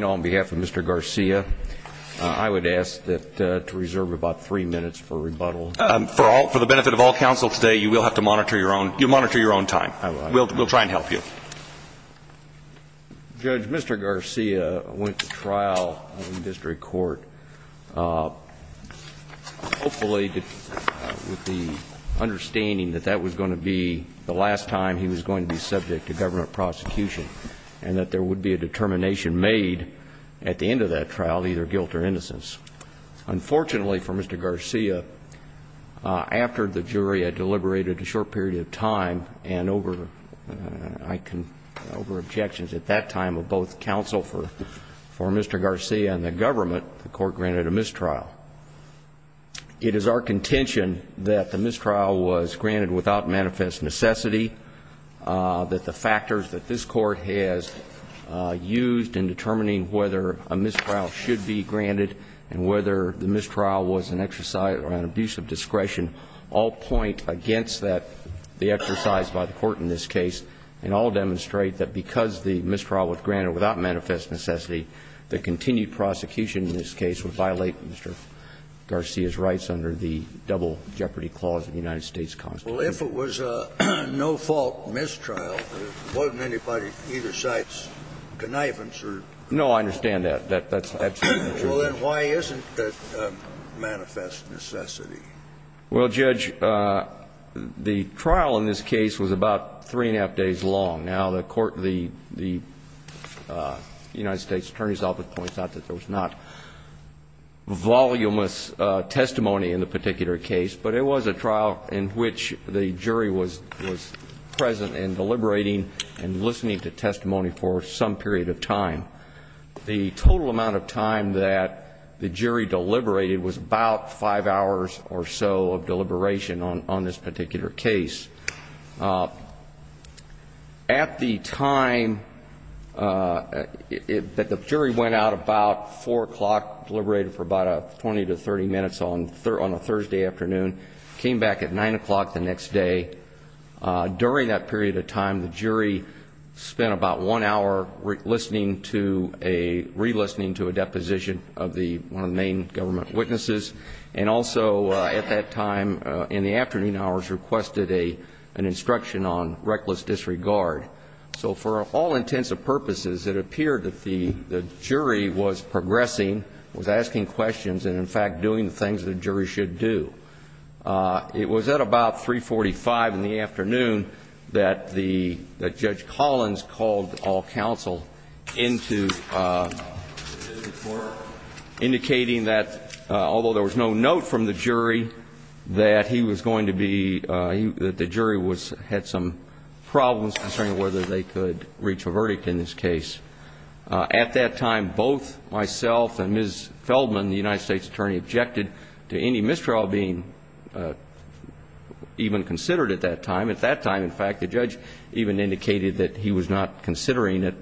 on behalf of Mr. Garcia. I would ask that to reserve about three minutes for rebuttal. For the benefit of all counsel today, you will have to monitor your own time. We'll try and help you. Judge, Mr. Garcia went to trial in the district court, hopefully with the understanding that that was going to be the last time he was going to be subject to government prosecution. And that there would be a determination made at the end of that trial, either guilt or innocence. Unfortunately for Mr. Garcia, after the jury had deliberated a short period of time and over objections at that time of both counsel for Mr. Garcia and the government, the court granted a mistrial. It is our contention that the mistrial was granted without manifest necessity, that the factors that this court has used in determining whether a mistrial should be granted and whether the mistrial was an exercise or an abuse of discretion all point against the exercise by the court in this case and all demonstrate that because the mistrial was granted without manifest necessity, the continued prosecution in this case would violate Mr. Garcia's rights under the Double Jeopardy Clause of the United States Constitution. Well, if it was a no-fault mistrial, it wasn't anybody's, either side's, connivance or... No, I understand that. That's absolutely true. Well, then why isn't it a manifest necessity? Well, Judge, the trial in this case was about three and a half days long. Now, the United States Attorney's Office points out that there was not voluminous testimony in the particular case, but it was a trial in which the jury was present and deliberating and listening to testimony for some period of time. The total amount of time that the jury deliberated was about five hours or so of deliberation on this particular case. At the time that the jury went out, about 4 o'clock, deliberated for about 20 to 30 minutes on a Thursday afternoon, came back at 9 o'clock the next day. During that period of time, the jury spent about one hour re-listening to a deposition of one of the main government witnesses, and also at that time, in the afternoon hours, requested an instruction on reckless disregard. So for all intents and purposes, it appeared that the jury was progressing, was asking questions, and in fact doing the things that a jury should do. It was at about 3.45 in the afternoon that Judge Collins called all counsel into indicating that, although there was no note from the jury, that he was going to be, that the jury had some problems concerning whether they could reach a verdict in this case. At that time, both myself and Ms. Feldman, the United States Attorney, objected to any mistrial being even considered at that time. At that time, in fact, the judge even indicated that he was not considering it,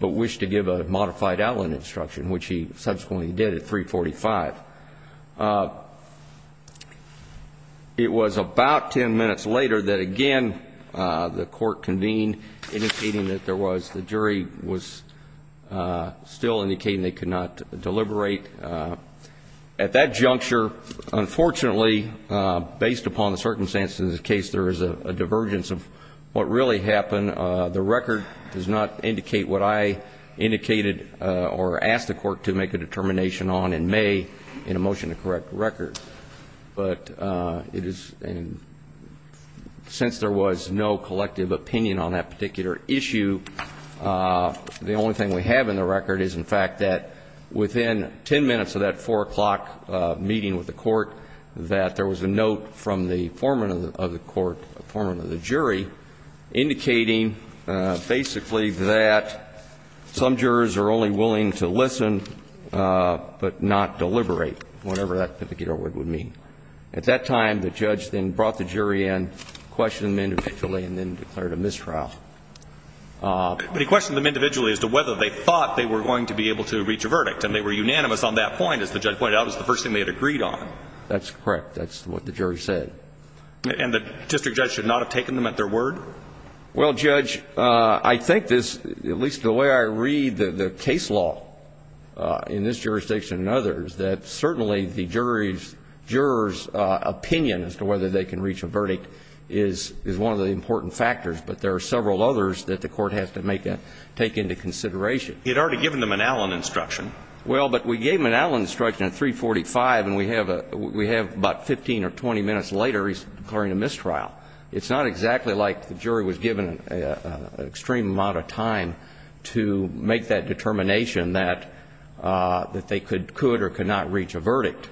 but wished to give a modified outline instruction, which he subsequently did at 3.45. It was about 10 minutes later that, again, the court convened, indicating that there was, the jury was still indicating they could not deliberate. At that juncture, unfortunately, based upon the circumstances of the case, there is a divergence of what really happened. The record does not indicate what I indicated or asked the court to make a determination on in May in a motion to correct the record. But it is, since there was no collective opinion on that particular issue, the only thing we have in the record is, in fact, that within 10 minutes of that 4 o'clock meeting with the court, that there was a note from the foreman of the court, the foreman of the jury, indicating basically that some jurors are only willing to listen but not deliberate, whatever that particular word would mean. At that time, the judge then brought the jury in, questioned them individually, and then declared a mistrial. But he questioned them individually as to whether they thought they were going to be able to reach a verdict. And they were unanimous on that point. As the judge pointed out, it was the first thing they had agreed on. That's correct. That's what the jury said. And the district judge should not have taken them at their word? Well, Judge, I think this, at least the way I read the case law in this jurisdiction and others, that certainly the jury's, juror's opinion as to whether they can reach a verdict is one of the important factors. But there are several others that the court has to make a, take into consideration. He had already given them an Allen instruction. Well, but we gave him an Allen instruction at 345, and we have about 15 or 20 minutes later he's declaring a mistrial. It's not exactly like the jury was given an extreme amount of time to make that determination that they could or could not reach a verdict.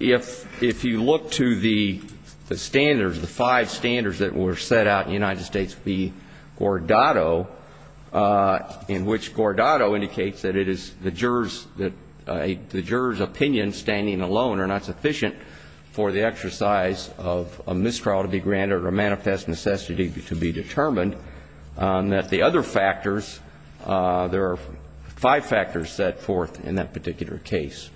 If you look to the standards, the five standards that were set out in the United States v. Gordado, in which Gordado indicates that it is the juror's, the juror's opinion standing alone are not sufficient for the exercise of a mistrial to be granted or a manifest necessity to be determined, that the other factors, there are five factors set forth in that particular case.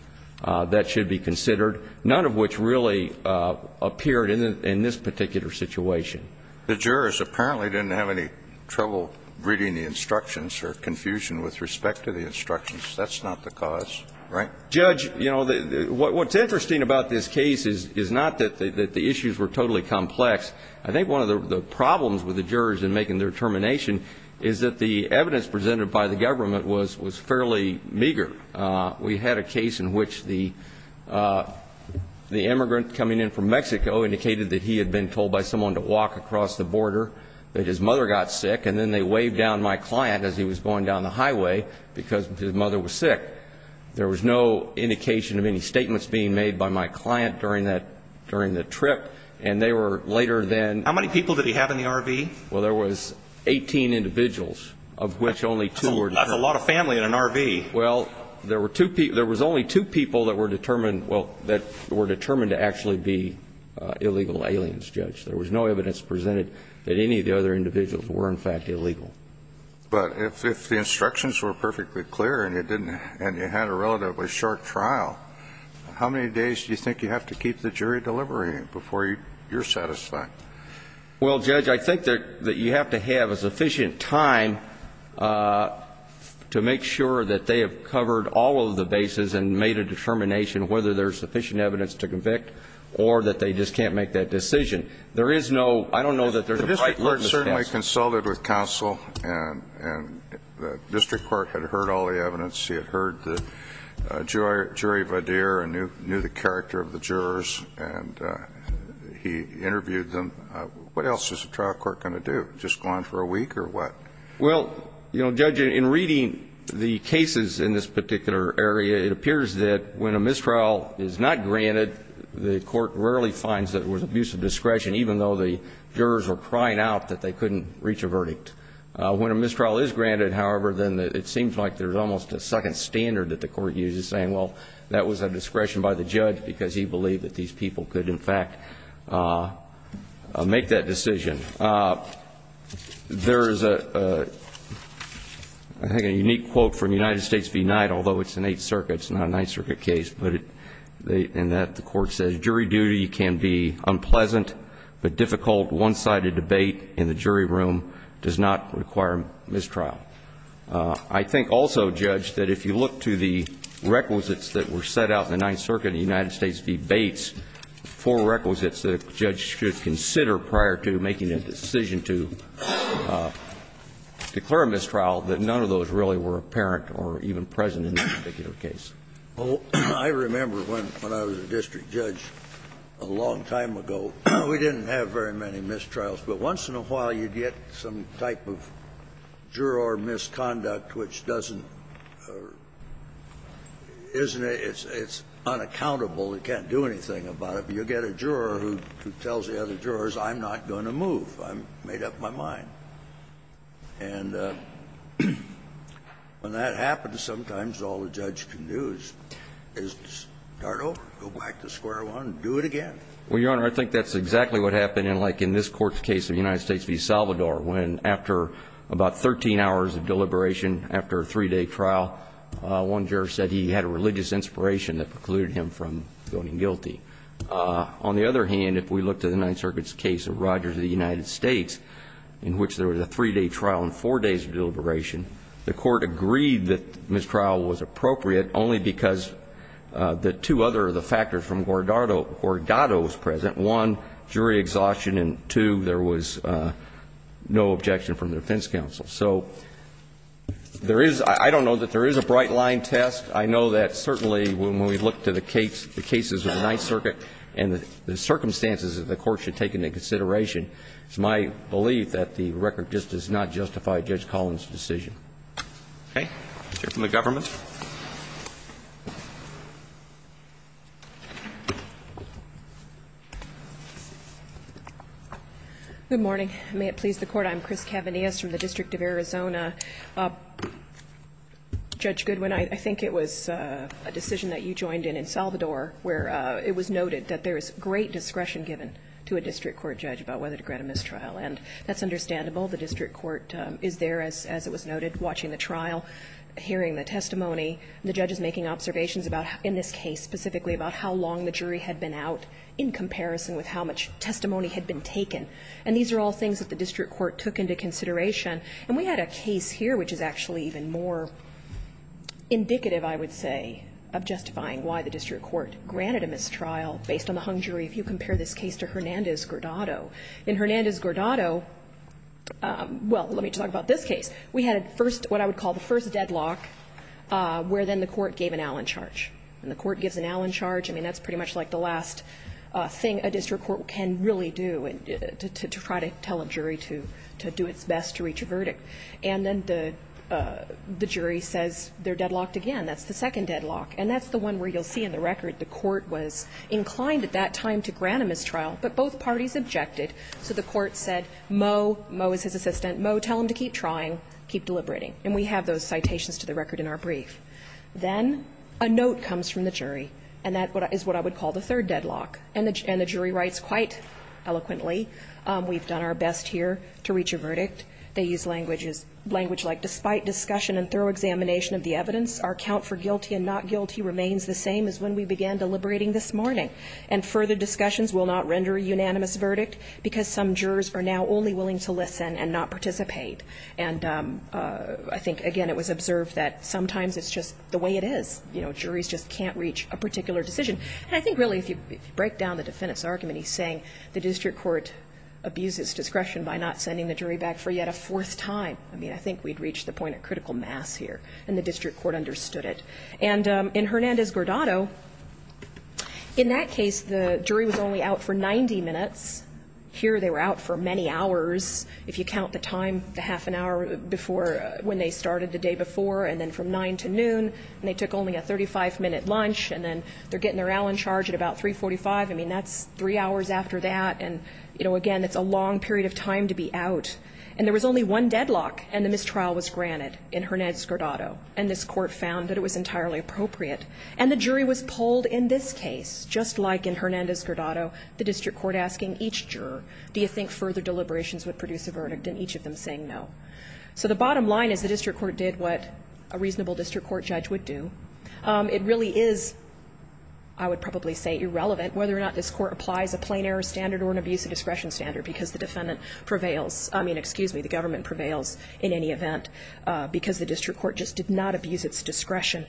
That should be considered, none of which really appeared in this particular situation. The jurors apparently didn't have any trouble reading the instructions or confusion with respect to the instructions. That's not the cause, right? Judge, you know, what's interesting about this case is not that the issues were totally complex. I think one of the problems with the jurors in making their determination is that the evidence presented by the government was fairly meager. We had a case in which the immigrant coming in from Mexico indicated that he had been told by someone to walk across the border, that his mother got sick, and then they waved down my client as he was going down the highway because his mother was sick. There was no indication of any statements being made by my client during that, during the trip, and they were later then. How many people did he have in the RV? Well, there was 18 individuals, of which only two were dead. How many? Well, there were two people. There was only two people that were determined, well, that were determined to actually be illegal aliens, Judge. There was no evidence presented that any of the other individuals were, in fact, illegal. But if the instructions were perfectly clear and you didn't, and you had a relatively short trial, how many days do you think you have to keep the jury deliberating before you're satisfied? Well, Judge, I think that you have to have a sufficient time to make sure that they have covered all of the bases and made a determination whether there's sufficient evidence to convict or that they just can't make that decision. There is no ‑‑ I don't know that there's a right look to counsel. The district court certainly consulted with counsel, and the district court had heard all the evidence. He had heard the jury videre and knew the character of the jurors, and he interviewed them. What else is a trial court going to do, just go on for a week or what? Well, you know, Judge, in reading the cases in this particular area, it appears that when a mistrial is not granted, the court rarely finds that it was abuse of discretion, even though the jurors were crying out that they couldn't reach a verdict. When a mistrial is granted, however, then it seems like there's almost a second standard that the court uses, saying, well, that was a discretion by the judge because he believed that these people could, in fact, make that decision. There is a unique quote from United States v. Knight, although it's an Eighth Circuit, it's not a Ninth Circuit case, but in that the court says, jury duty can be unpleasant, but difficult one‑sided debate in the jury room does not require mistrial. I think also, Judge, that if you look to the requisites that were set out in the Ninth Circuit in the United States v. Bates, four requisites that a judge should consider prior to making a decision to declare a mistrial, that none of those really were apparent or even present in that particular case. Kennedy, I remember when I was a district judge a long time ago, we didn't have very many mistrials, but once in a while you'd get some type of juror misconduct which doesn't ‑‑ it's unaccountable, it can't do anything about it. You get a juror who tells the other jurors, I'm not going to move, I made up my mind. And when that happens, sometimes all a judge can do is start over, go back to square one and do it again. Well, Your Honor, I think that's exactly what happened in like in this Court's case in the United States v. Salvador, when after about 13 hours of deliberation after a three‑day trial, one juror said he had a religious inspiration that precluded him from going guilty. On the other hand, if we look to the Ninth Circuit's case of Rogers v. United States in which there was a three‑day trial and four days of deliberation, the Court agreed that mistrial was appropriate only because the two other of the factors from Guardado was present, one, jury exhaustion, and two, there was no objection from the defense counsel. So there is ‑‑ I don't know that there is a bright line test. I know that certainly when we look to the cases of the Ninth Circuit and the circumstances that the Court should take into consideration, it's my belief that the record just does not justify Judge Collins' decision. Okay. We'll hear from the government. Good morning. May it please the Court. I'm Chris Cavanias from the District of Arizona. Judge Goodwin, I think it was a decision that you joined in in Salvador where it was about whether to grant a mistrial. And that's understandable. The district court is there, as it was noted, watching the trial, hearing the testimony. The judge is making observations about, in this case specifically, about how long the jury had been out in comparison with how much testimony had been taken. And these are all things that the district court took into consideration. And we had a case here which is actually even more indicative, I would say, of justifying why the district court granted a mistrial based on the hung jury if you compare this case to Hernandez-Gordado. In Hernandez-Gordado, well, let me talk about this case. We had first what I would call the first deadlock, where then the court gave an Allen charge. And the court gives an Allen charge. I mean, that's pretty much like the last thing a district court can really do, to try to tell a jury to do its best to reach a verdict. And then the jury says they're deadlocked again. That's the second deadlock. And that's the one where you'll see in the record the court was inclined at that time to grant a mistrial, but both parties objected. So the court said, Moe, Moe is his assistant. Moe, tell him to keep trying, keep deliberating. And we have those citations to the record in our brief. Then a note comes from the jury, and that is what I would call the third deadlock. And the jury writes quite eloquently, we've done our best here to reach a verdict. They use language like, despite discussion and thorough examination of the evidence, our count for guilty and not guilty remains the same as when we began deliberating this morning, and further discussions will not render a unanimous verdict because some jurors are now only willing to listen and not participate. And I think, again, it was observed that sometimes it's just the way it is. You know, juries just can't reach a particular decision. And I think, really, if you break down the defendant's argument, he's saying the district court abuses discretion by not sending the jury back for yet a fourth time. I mean, I think we've reached the point of critical mass here, and the district court understood it. And in Hernandez-Guardado, in that case, the jury was only out for 90 minutes. Here they were out for many hours, if you count the time, the half an hour before when they started the day before, and then from 9 to noon, and they took only a 35-minute lunch, and then they're getting their Allen charge at about 345. I mean, that's three hours after that. And, you know, again, it's a long period of time to be out. And there was only one deadlock, and the mistrial was granted in Hernandez-Guardado, and this Court found that it was entirely appropriate. And the jury was polled in this case, just like in Hernandez-Guardado, the district court asking each juror, do you think further deliberations would produce a verdict, and each of them saying no. So the bottom line is the district court did what a reasonable district court judge would do. It really is, I would probably say, irrelevant whether or not this Court applies a plain error standard or an abuse of discretion standard, because the defendant prevails, I mean, excuse me, the government prevails in any event, because the district court just did not abuse its discretion.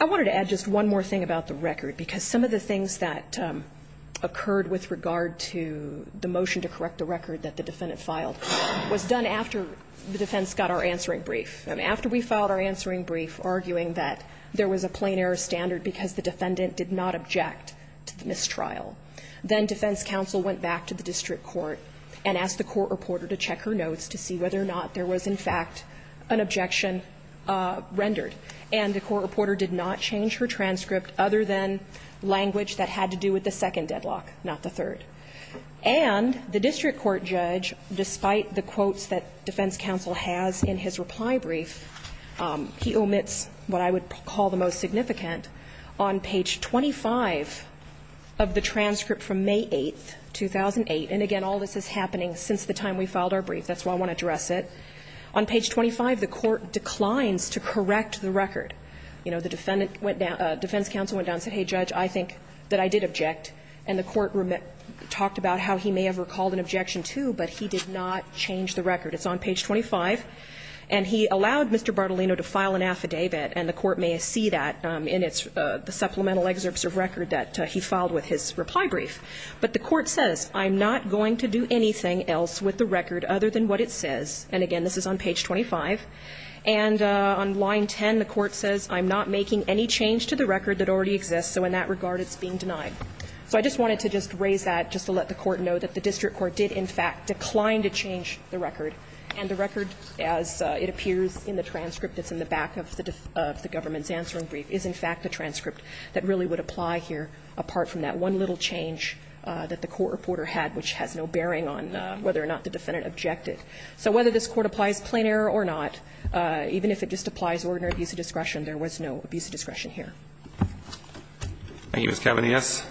I wanted to add just one more thing about the record, because some of the things that occurred with regard to the motion to correct the record that the defendant filed was done after the defense got our answering brief. After we filed our answering brief arguing that there was a plain error standard because the defendant did not object to the mistrial. Then defense counsel went back to the district court and asked the court reporter to check her notes to see whether or not there was, in fact, an objection rendered. And the court reporter did not change her transcript other than language that had to do with the second deadlock, not the third. And the district court judge, despite the quotes that defense counsel has in his reply brief, he omits what I would call the most significant. On page 25 of the transcript from May 8, 2008, and again, all this is happening since the time we filed our brief. That's why I want to address it. On page 25, the court declines to correct the record. You know, the defendant went down, defense counsel went down and said, hey, judge, I think that I did object. And the court talked about how he may have recalled an objection, too, but he did not change the record. It's on page 25. And he allowed Mr. Bartolino to file an affidavit, and the court may see that in its supplemental excerpts of record that he filed with his reply brief. But the court says, I'm not going to do anything else with the record other than what it says. And again, this is on page 25. And on line 10, the court says, I'm not making any change to the record that already exists. So in that regard, it's being denied. So I just wanted to just raise that just to let the court know that the district court did, in fact, decline to change the record. And the record, as it appears in the transcript that's in the back of the government's transcript, that really would apply here, apart from that one little change that the court reporter had, which has no bearing on whether or not the defendant objected. So whether this Court applies plain error or not, even if it just applies ordinary abuse of discretion, there was no abuse of discretion here. Thank you, Ms. Cavaney.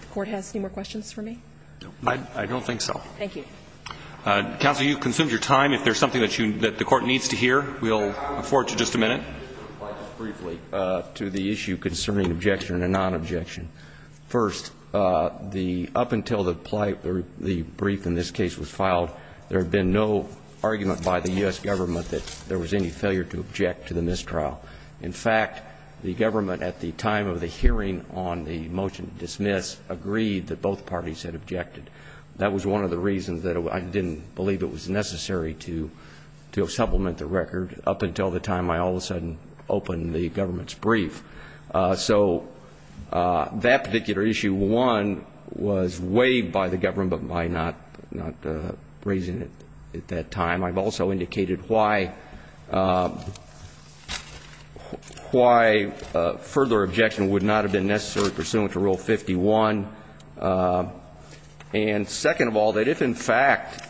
The Court has any more questions for me? I don't think so. Thank you. Counsel, you've consumed your time. If there's something that you need, that the Court needs to hear, we'll afford to just a minute. I just want to reply briefly to the issue concerning objection and non-objection. First, the up until the brief in this case was filed, there had been no argument by the U.S. government that there was any failure to object to the mistrial. In fact, the government, at the time of the hearing on the motion to dismiss, agreed that both parties had objected. That was one of the reasons that I didn't believe it was necessary to supplement the record. Up until the time I all of a sudden opened the government's brief. So that particular issue, one, was waived by the government, but by not raising it at that time. I've also indicated why further objection would not have been necessary pursuant to Rule 51. And second of all, that if in fact,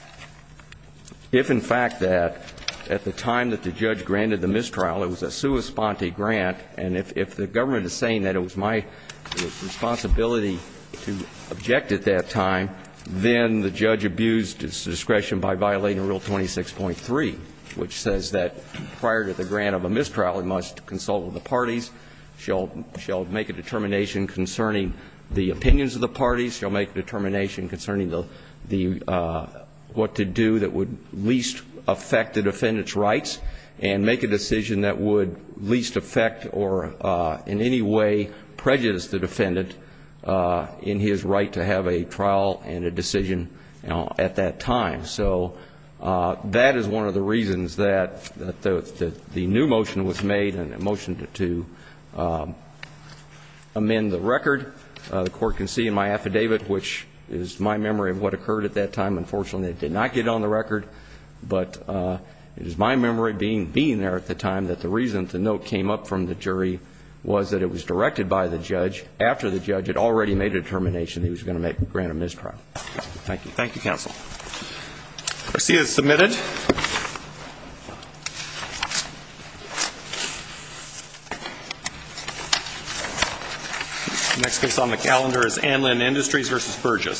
if in fact that, at the time that the judge granted the mistrial, it was a sua sponte grant, and if the government is saying that it was my responsibility to object at that time, then the judge abused its discretion by violating Rule 26.3, which says that prior to the grant of a mistrial, it must consult with the parties, shall make a determination concerning the opinions of the parties, shall make a determination concerning the, what to do that would least affect the defendant's rights, and make a decision that would least affect or in any way prejudice the defendant in his right to have a trial and a decision at that time. So that is one of the reasons that the new motion was made and a motion to amend the record. The court can see in my affidavit, which is my memory of what occurred at that time, unfortunately it did not get on the record, but it is my memory being there at the time that the reason the note came up from the jury was that it was directed by the judge after the judge had already made a determination he was going to grant a mistrial. Thank you. Thank you counsel. Proceed as submitted. Next case on the calendar is Anlin Industries v. Burgess.